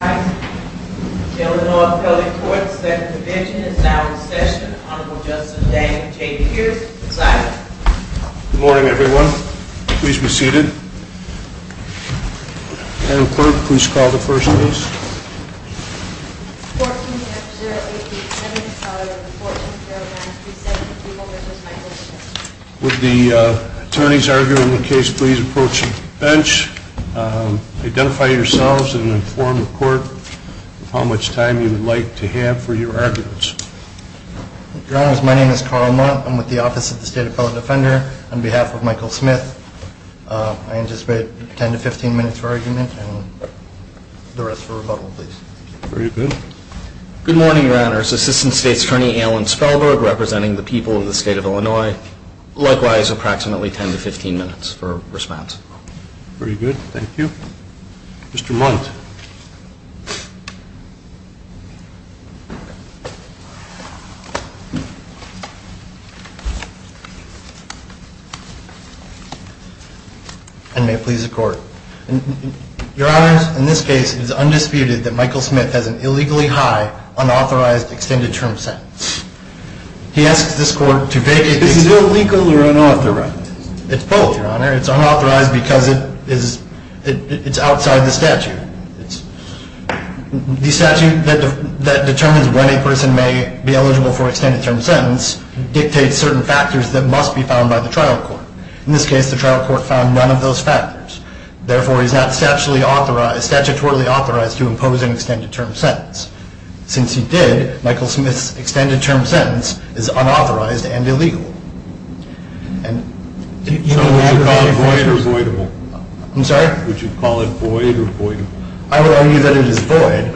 Good morning, everyone. Please be seated. Madam Clerk, please call the first case. 14-080, Senator McCullough, reporting to Paragraph 37-3, malicious migration. Would the attorneys arguing the case please approach the bench. Identify yourselves and inform the court how much time you would like to have for your arguments. Your Honors, my name is Carl Mott. I'm with the Office of the State Appellate Defender. On behalf of Michael Smith, I anticipate 10 to 15 minutes for argument and the rest for rebuttal, please. Very good. Good morning, Your Honors. Assistant State's Attorney Alan Spellberg representing the people of the State of Illinois. Likewise, approximately 10 to 15 minutes for response. Very good. Thank you. Mr. Munt. And may it please the Court. Your Honors, in this case, it is undisputed that Michael Smith has an illegally high unauthorized extended term sentence. He asks this Court to vacate the statute. Is it illegal or unauthorized? It's both, Your Honor. It's unauthorized because it's outside the statute. The statute that determines when a person may be eligible for extended term sentence dictates certain factors that must be found by the trial court. In this case, the trial court found none of those factors. Therefore, he's not statutorily authorized to impose an extended term sentence. Since he did, Michael Smith's extended term sentence is unauthorized and illegal. So would you call it void or voidable? I'm sorry? Would you call it void or voidable? I would argue that it is void.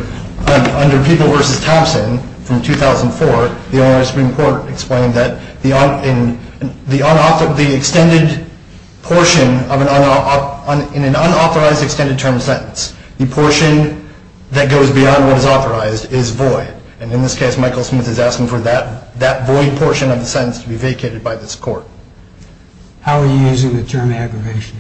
How are you using the term aggravation?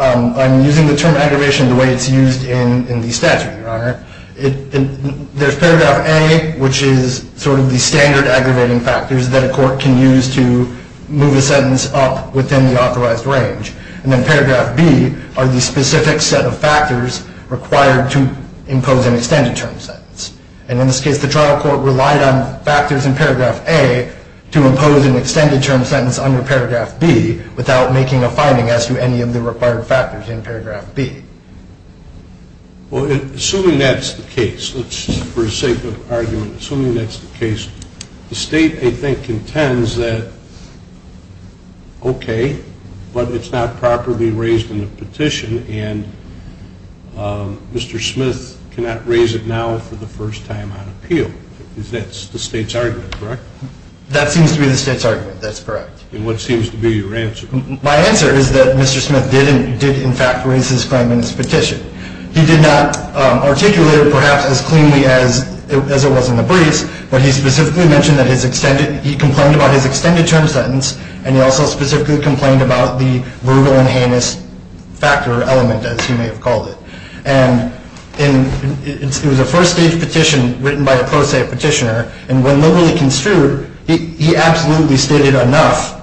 I'm using the term aggravation the way it's used in the statute, Your Honor. There's paragraph A, which is sort of the standard aggravating factors that a court can use to move a sentence up within the authorized range. And then paragraph B are the specific set of factors required to impose an extended term sentence. And in this case, the trial court relied on factors in paragraph A to impose an extended term sentence under paragraph B without making a finding as to any of the required factors in paragraph B. Well, assuming that's the case, for the sake of argument, assuming that's the case, the State, I think, contends that, okay, but it's not properly raised in the petition. And Mr. Smith cannot raise it now for the first time on appeal. That's the State's argument, correct? That seems to be the State's argument. That's correct. And what seems to be your answer? My answer is that Mr. Smith did, in fact, raise his claim in his petition. He did not articulate it, perhaps, as cleanly as it was in the briefs. But he specifically mentioned that he complained about his extended term sentence, and he also specifically complained about the verrugal and heinous factor element, as he may have called it. And it was a first-stage petition written by a pro se petitioner. And when literally construed, he absolutely stated enough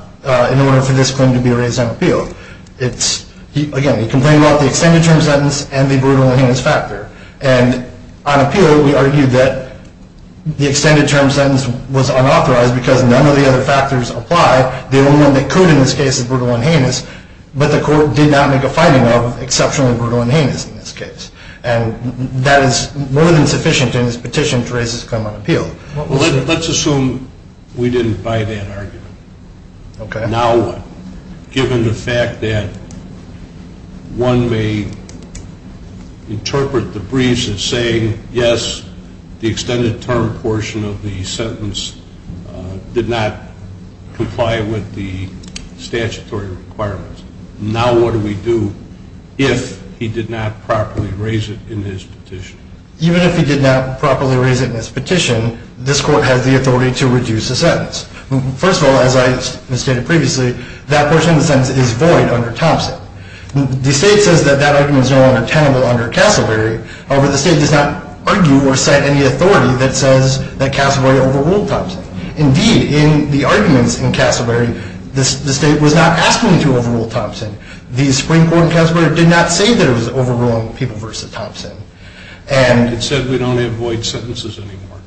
in order for this claim to be raised on appeal. Again, he complained about the extended term sentence and the verrugal and heinous factor. And on appeal, we argued that the extended term sentence was unauthorized because none of the other factors apply. The only one that could in this case is verrugal and heinous, but the court did not make a finding of exceptionally verrugal and heinous in this case. And that is more than sufficient in this petition to raise this claim on appeal. Let's assume we didn't buy that argument. Okay. Given the fact that one may interpret the briefs as saying, yes, the extended term portion of the sentence did not comply with the statutory requirements, now what do we do if he did not properly raise it in his petition? Even if he did not properly raise it in his petition, this court has the authority to reduce the sentence. First of all, as I stated previously, that portion of the sentence is void under Thompson. The state says that that argument is no longer tenable under Casselberry, however, the state does not argue or cite any authority that says that Casselberry overruled Thompson. Indeed, in the arguments in Casselberry, the state was not asking to overrule Thompson. The Supreme Court in Casselberry did not say that it was overruling people versus Thompson. It said we don't have void sentences anymore.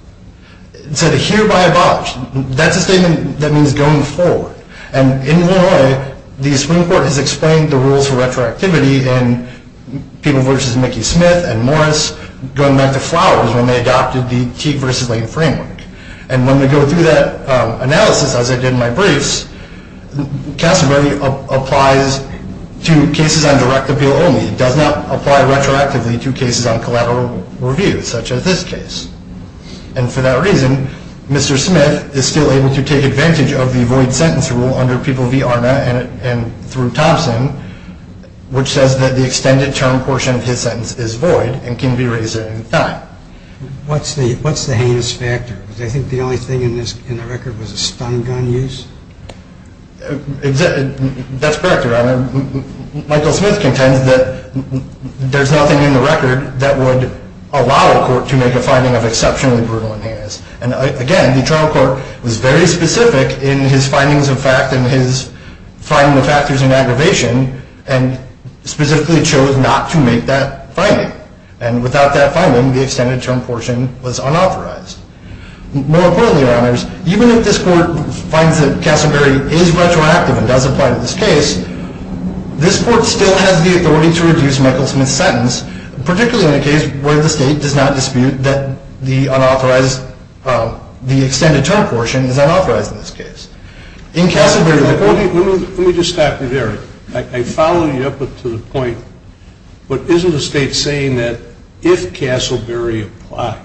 It said hereby abolished. That's a statement that means going forward. And in one way, the Supreme Court has explained the rules for retroactivity in people versus Mickey Smith and Morris, going back to Flowers when they adopted the Teague versus Lane framework. And when we go through that analysis, as I did in my briefs, Casselberry applies to cases on direct appeal only. It does not apply retroactively to cases on collateral review, such as this case. And for that reason, Mr. Smith is still able to take advantage of the void sentence rule under People v. Arna and through Thompson, which says that the extended term portion of his sentence is void and can be raised at any time. What's the heinous factor? Do they think the only thing in the record was a stun gun use? That's correct, Your Honor. Michael Smith contends that there's nothing in the record that would allow a court to make a finding of exceptionally brutal and heinous. And again, the trial court was very specific in his findings of fact and his finding of factors in aggravation and specifically chose not to make that finding. And without that finding, the extended term portion was unauthorized. More importantly, Your Honors, even if this court finds that Casselberry is retroactive and does apply to this case, this court still has the authority to reduce Michael Smith's sentence, particularly in a case where the state does not dispute that the unauthorized, the extended term portion is unauthorized in this case. In Casselberry, the court... Let me just stop you there. I follow you up to the point, but isn't the state saying that if Casselberry applies,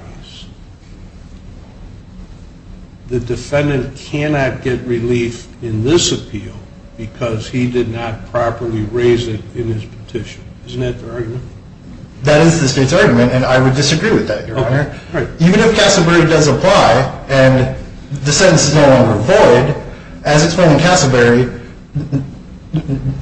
the defendant cannot get relief in this appeal because he did not properly raise it in his petition? Isn't that the argument? That is the state's argument, and I would disagree with that, Your Honor. Even if Casselberry does apply and the sentence is no longer void, as explained in Casselberry,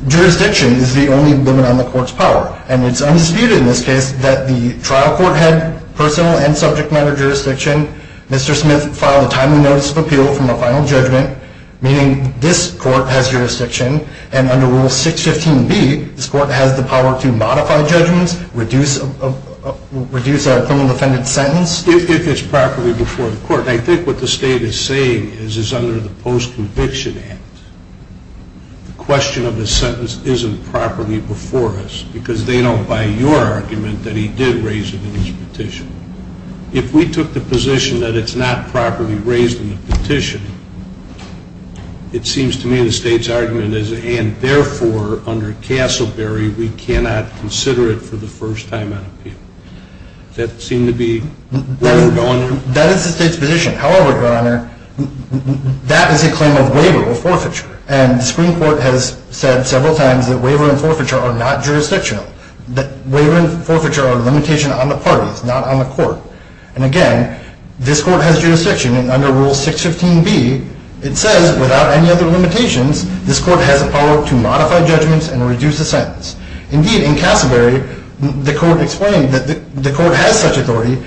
jurisdiction is the only limit on the court's power, and it's undisputed in this case that the trial court had personal and subject matter jurisdiction. Mr. Smith filed a timely notice of appeal from a final judgment, meaning this court has jurisdiction, and under Rule 615B, this court has the power to modify judgments, reduce a criminal defendant's sentence. If it's properly before the court, I think what the state is saying is under the Post-Conviction Act, the question of the sentence isn't properly before us because they don't buy your argument that he did raise it in his petition. If we took the position that it's not properly raised in the petition, it seems to me the state's argument is, and therefore, under Casselberry, we cannot consider it for the first time on appeal. Does that seem to be where we're going? That is the state's position. However, Your Honor, that is a claim of waiver or forfeiture, and the Supreme Court has said several times that waiver and forfeiture are not jurisdictional, that waiver and forfeiture are a limitation on the parties, not on the court. And again, this court has jurisdiction, and under Rule 615B, it says without any other limitations, this court has the power to modify judgments and reduce a sentence. Indeed, in Casselberry, the court explained that the court has such authority.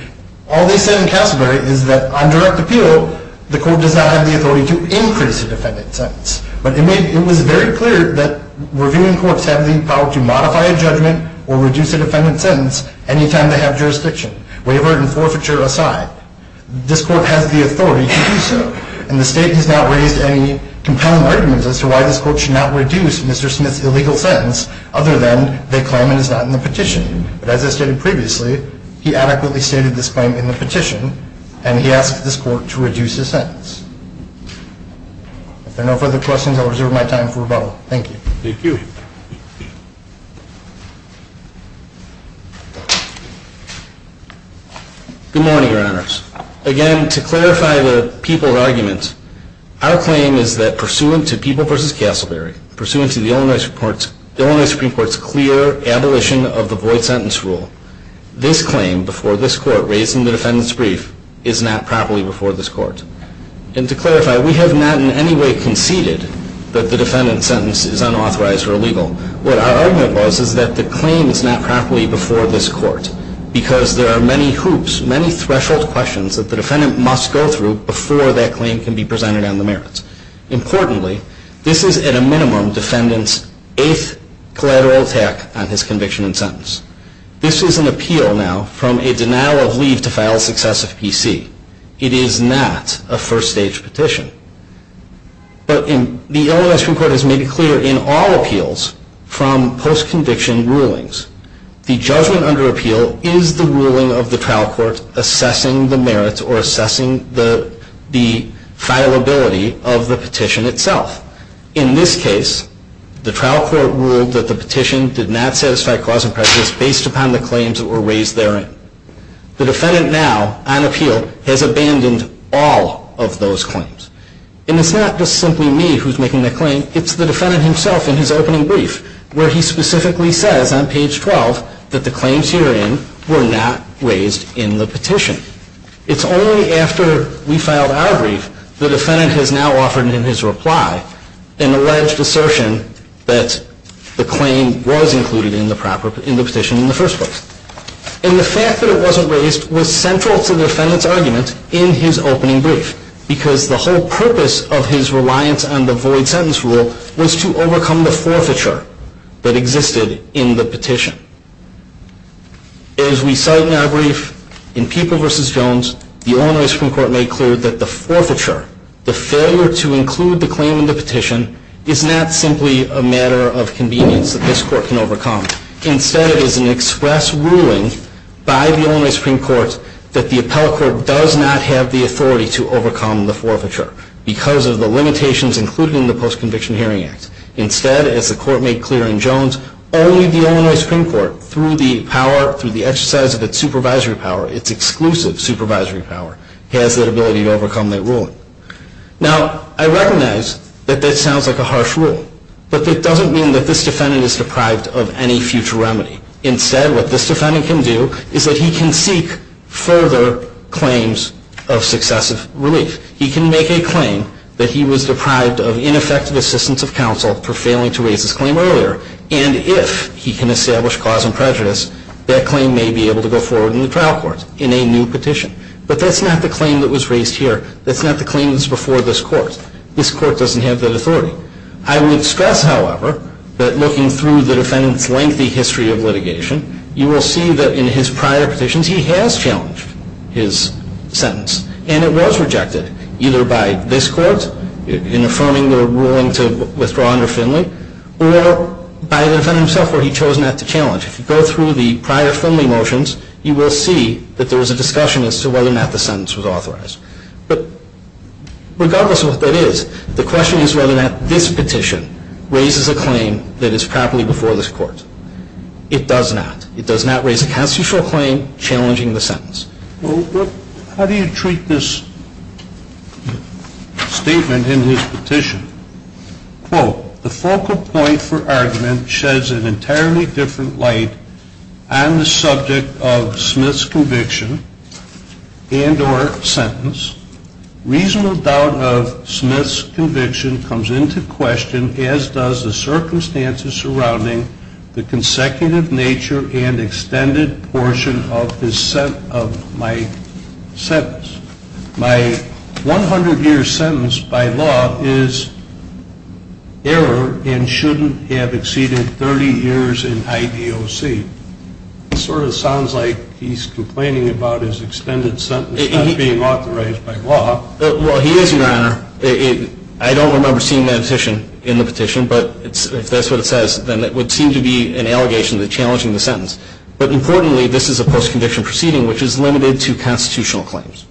All they said in Casselberry is that on direct appeal, the court does not have the authority to increase a defendant's sentence. But it was very clear that reviewing courts have the power to modify a judgment or reduce a defendant's sentence any time they have jurisdiction, waiver and forfeiture aside. This court has the authority to do so, and the state has not raised any compelling arguments as to why this court should not reduce Mr. Smith's illegal sentence, other than they claim it is not in the petition. But as I stated previously, he adequately stated this claim in the petition, and he asked this court to reduce his sentence. If there are no further questions, I'll reserve my time for rebuttal. Thank you. Good morning, Your Honors. Again, to clarify the people argument, our claim is that pursuant to People v. Casselberry, pursuant to the Illinois Supreme Court's clear abolition of the void sentence rule, this claim before this court raising the defendant's brief is not properly before this court. And to clarify, we have not in any way conceded that the defendant's sentence is unauthorized or illegal. What our argument was is that the claim is not properly before this court because there are many hoops, many threshold questions that the defendant must go through before that claim can be presented on the merits. Importantly, this is at a minimum defendant's eighth collateral attack on his conviction and sentence. This is an appeal now from a denial of leave to file successive PC. It is not a first-stage petition. But the Illinois Supreme Court has made it clear in all appeals from post-conviction rulings the judgment under appeal is the ruling of the trial court assessing the merits or assessing the filability of the petition itself. In this case, the trial court ruled that the petition did not satisfy cause and practice based upon the claims that were raised therein. The defendant now, on appeal, has abandoned all of those claims. And it's not just simply me who's making the claim, it's the defendant himself in his opening brief where he specifically says on page 12 that the claims herein were not raised in the petition. It's only after we filed our brief, the defendant has now offered in his reply an alleged assertion that the claim was included in the petition in the first place. And the fact that it wasn't raised was central to the defendant's argument in his opening brief because the whole purpose of his reliance on the void sentence rule was to overcome the forfeiture that existed in the petition. As we cite in our brief, in People v. Jones, the Illinois Supreme Court made clear that the forfeiture, the failure to include the claim in the petition, is not simply a matter of convenience that this court can overcome. Instead, it is an express ruling by the Illinois Supreme Court that the appellate court does not have the authority to overcome the forfeiture because of the limitations included in the Post-Conviction Hearing Act. Instead, as the court made clear in Jones, only the Illinois Supreme Court, through the power, through the exercise of its supervisory power, its exclusive supervisory power, has the ability to overcome that ruling. Now, I recognize that that sounds like a harsh rule, but that doesn't mean that this defendant is deprived of any future remedy. Instead, what this defendant can do is that he can seek further claims of successive relief. He can make a claim that he was deprived of ineffective assistance of counsel for failing to raise his claim earlier, and if he can establish cause and prejudice, that claim may be able to go forward in the trial court in a new petition. But that's not the claim that was raised here. That's not the claim that's before this court. This court doesn't have that authority. I would stress, however, that looking through the defendant's lengthy history of litigation, you will see that in his prior petitions he has challenged his sentence, and it was rejected, either by this court in affirming their ruling to withdraw under Finley, or by the defendant himself where he chose not to challenge. If you go through the prior Finley motions, you will see that there was a discussion as to whether or not the sentence was authorized. But regardless of what that is, the question is whether or not this petition raises a claim that is properly before this court. It does not. It does not raise a constitutional claim challenging the sentence. Well, how do you treat this statement in his petition? Quote, the focal point for argument sheds an entirely different light on the subject of Smith's conviction and or sentence. Reasonable doubt of Smith's conviction comes into question, as does the circumstances surrounding the consecutive nature and extended portion of my sentence. My 100-year sentence by law is error and shouldn't have exceeded 30 years in IDOC. It sort of sounds like he's complaining about his extended sentence not being authorized by law. Well, he is, Your Honor. I don't remember seeing that petition in the petition, but if that's what it says, then it would seem to be an allegation to challenging the sentence. But importantly, this is a post-condition proceeding, which is limited to constitutional claims.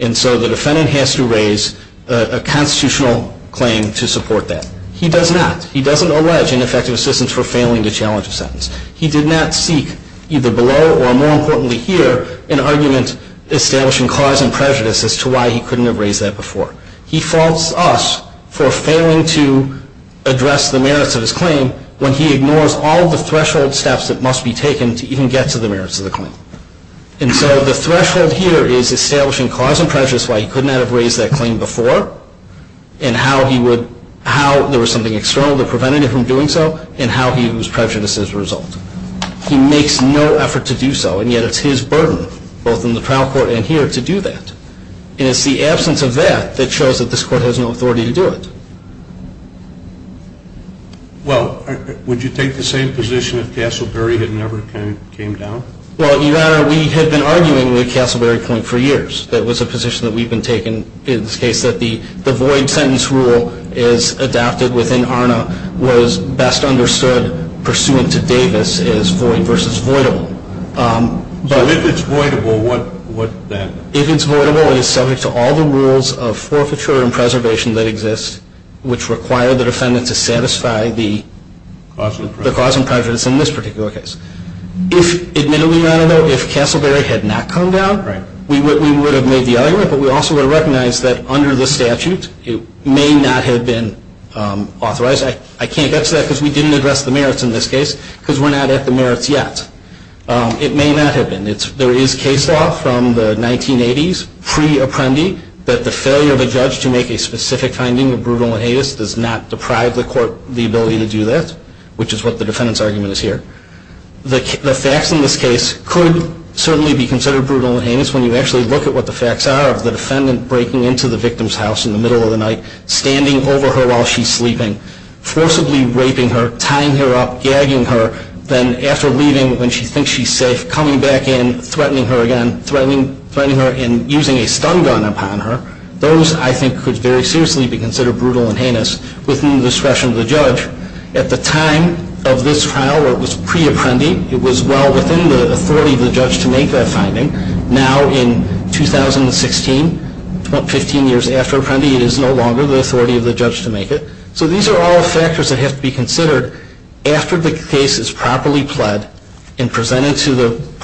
And so the defendant has to raise a constitutional claim to support that. He does not. He doesn't allege ineffective assistance for failing to challenge a sentence. He did not seek, either below or more importantly here, an argument establishing cause and prejudice as to why he couldn't have raised that before. He faults us for failing to address the merits of his claim when he ignores all of the threshold steps that must be taken to even get to the merits of the claim. And so the threshold here is establishing cause and prejudice why he could not have raised that claim before and how there was something external that prevented him from doing so and how he was prejudiced as a result. He makes no effort to do so, and yet it's his burden, both in the trial court and here, to do that. And it's the absence of that that shows that this court has no authority to do it. Well, would you take the same position if Castleberry had never came down? Well, Your Honor, we had been arguing with Castleberry Point for years. That was a position that we've been taking in this case, that the void sentence rule is adapted within ARNA, was best understood pursuant to Davis as void versus voidable. So if it's voidable, what then? If it's voidable, it is subject to all the rules of forfeiture and preservation that exist, which require the defendant to satisfy the cause and prejudice in this particular case. If, admittedly, Your Honor, though, if Castleberry had not come down, we would have made the argument, but we also would have recognized that under the statute, it may not have been authorized. I can't get to that because we didn't address the merits in this case, because we're not at the merits yet. It may not have been. There is case law from the 1980s, pre-Apprendi, that the failure of a judge to make a specific finding of brutal inhibition does not deprive the court the ability to do that, which is what the defendant's argument is here. The facts in this case could certainly be considered brutal and heinous when you actually look at what the facts are of the defendant breaking into the victim's house in the middle of the night, standing over her while she's sleeping, forcibly raping her, tying her up, gagging her, then after leaving, when she thinks she's safe, coming back in, threatening her again, threatening her and using a stun gun upon her. Those, I think, could very seriously be considered brutal and heinous within the discretion of the judge. At the time of this trial where it was pre-Apprendi, it was well within the authority of the judge to make that finding. Now in 2016, 15 years after Apprendi, it is no longer the authority of the judge to make it. So these are all factors that have to be considered after the case is properly pled and presented through the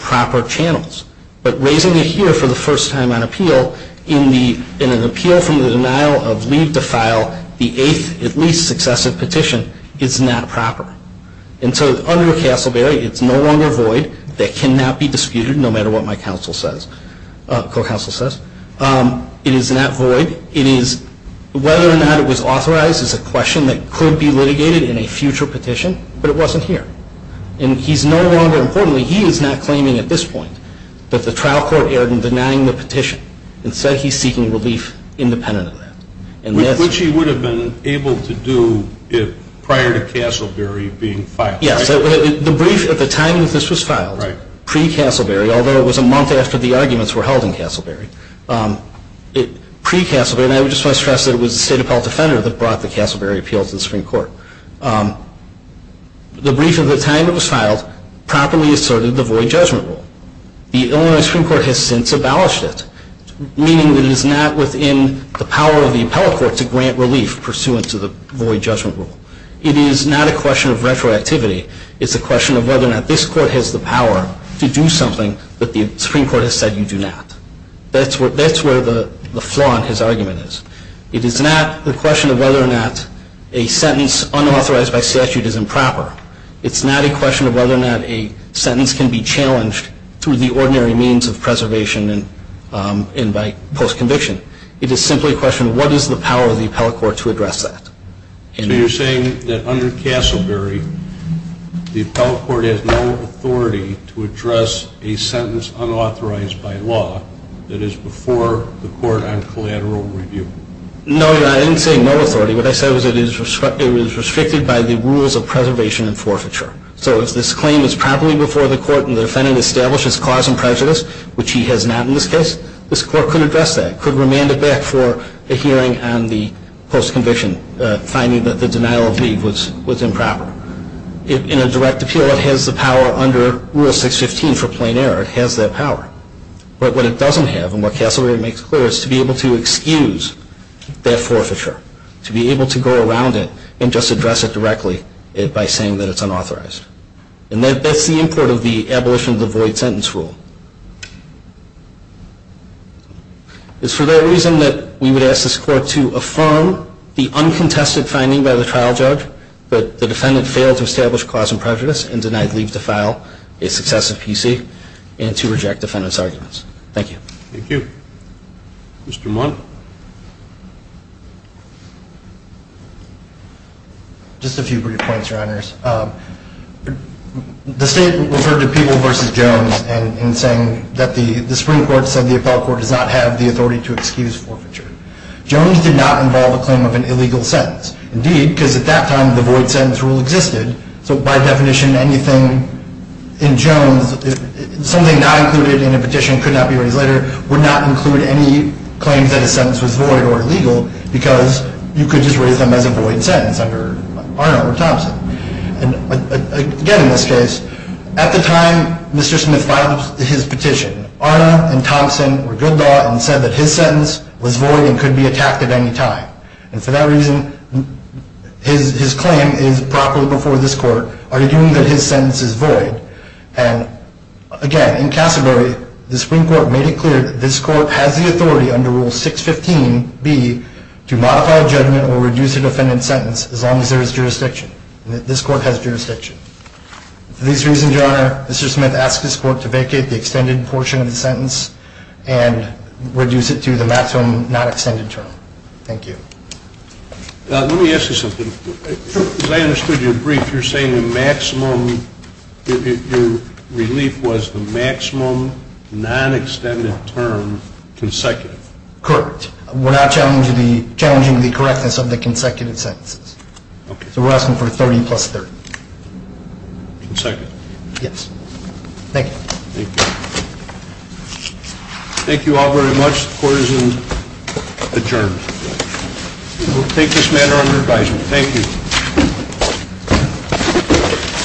proper channels. But raising it here for the first time on appeal, in an appeal from the denial of leave to file, the eighth at least successive petition, is not proper. And so under Castleberry, it's no longer void. That cannot be disputed, no matter what my co-counsel says. It is not void. Whether or not it was authorized is a question that could be litigated in a future petition, but it wasn't here. And he's no longer, importantly, he is not claiming at this point that the trial court erred in denying the petition and said he's seeking relief independent of that. Which he would have been able to do prior to Castleberry being filed. Yes. The brief at the time that this was filed, pre-Castleberry, although it was a month after the arguments were held in Castleberry, pre-Castleberry, and I just want to stress that it was the State Appellate Defender that brought the Castleberry appeal to the Supreme Court. The brief at the time it was filed properly asserted the void judgment rule. The Illinois Supreme Court has since abolished it, meaning that it is not within the power of the appellate court to grant relief pursuant to the void judgment rule. It is not a question of retroactivity. It's a question of whether or not this court has the power to do something that the Supreme Court has said you do not. That's where the flaw in his argument is. It is not a question of whether or not a sentence unauthorized by statute is improper. It's not a question of whether or not a sentence can be challenged through the ordinary means of preservation and by post-conviction. It is simply a question of what is the power of the appellate court to address that. So you're saying that under Castleberry, the appellate court has no authority to address a sentence unauthorized by law that is before the court on collateral review? No, Your Honor. I didn't say no authority. What I said was it was restricted by the rules of preservation and forfeiture. So if this claim is properly before the court and the defendant establishes cause and prejudice, which he has not in this case, this court could address that, could remand it back for a hearing on the post-conviction, finding that the denial of leave was improper. In a direct appeal, it has the power under Rule 615 for plain error. It has that power. But what it doesn't have, and what Castleberry makes clear, is to be able to excuse that forfeiture, to be able to go around it and just address it directly by saying that it's unauthorized. And that's the import of the abolition of the void sentence rule. It's for that reason that we would ask this court to affirm the uncontested finding by the trial judge that the defendant failed to establish cause and prejudice and denied leave to file a successive PC and to reject defendant's arguments. Thank you. Thank you. Mr. Mundt. Just a few brief points, Your Honors. The state referred to Peeble v. Jones in saying that the Supreme Court said the appellate court does not have the authority to excuse forfeiture. Jones did not involve a claim of an illegal sentence. Indeed, because at that time the void sentence rule existed, so by definition anything in Jones, something not included in a petition could not be raised later, would not include any claims that a sentence was void or illegal because you could just raise them as a void sentence under Arna or Thompson. Again, in this case, at the time Mr. Smith filed his petition, Arna and Thompson were good law and said that his sentence was void and could be attacked at any time. And for that reason, his claim is properly before this court, arguing that his sentence is void. And again, in Cassidary, the Supreme Court made it clear that this court has the authority under Rule 615B to modify a judgment or reduce a defendant's sentence as long as there is jurisdiction and that this court has jurisdiction. For these reasons, Your Honor, Mr. Smith asked this court to vacate the extended portion of the sentence and reduce it to the maximum not extended term. Thank you. Let me ask you something. As I understood your brief, you're saying the maximum relief was the maximum non-extended term consecutive. Correct. We're not challenging the correctness of the consecutive sentences. Okay. So we're asking for 30 plus 30. Consecutive. Yes. Thank you. Thank you. Thank you all very much. Court is adjourned. We'll take this matter under advisement. Thank you.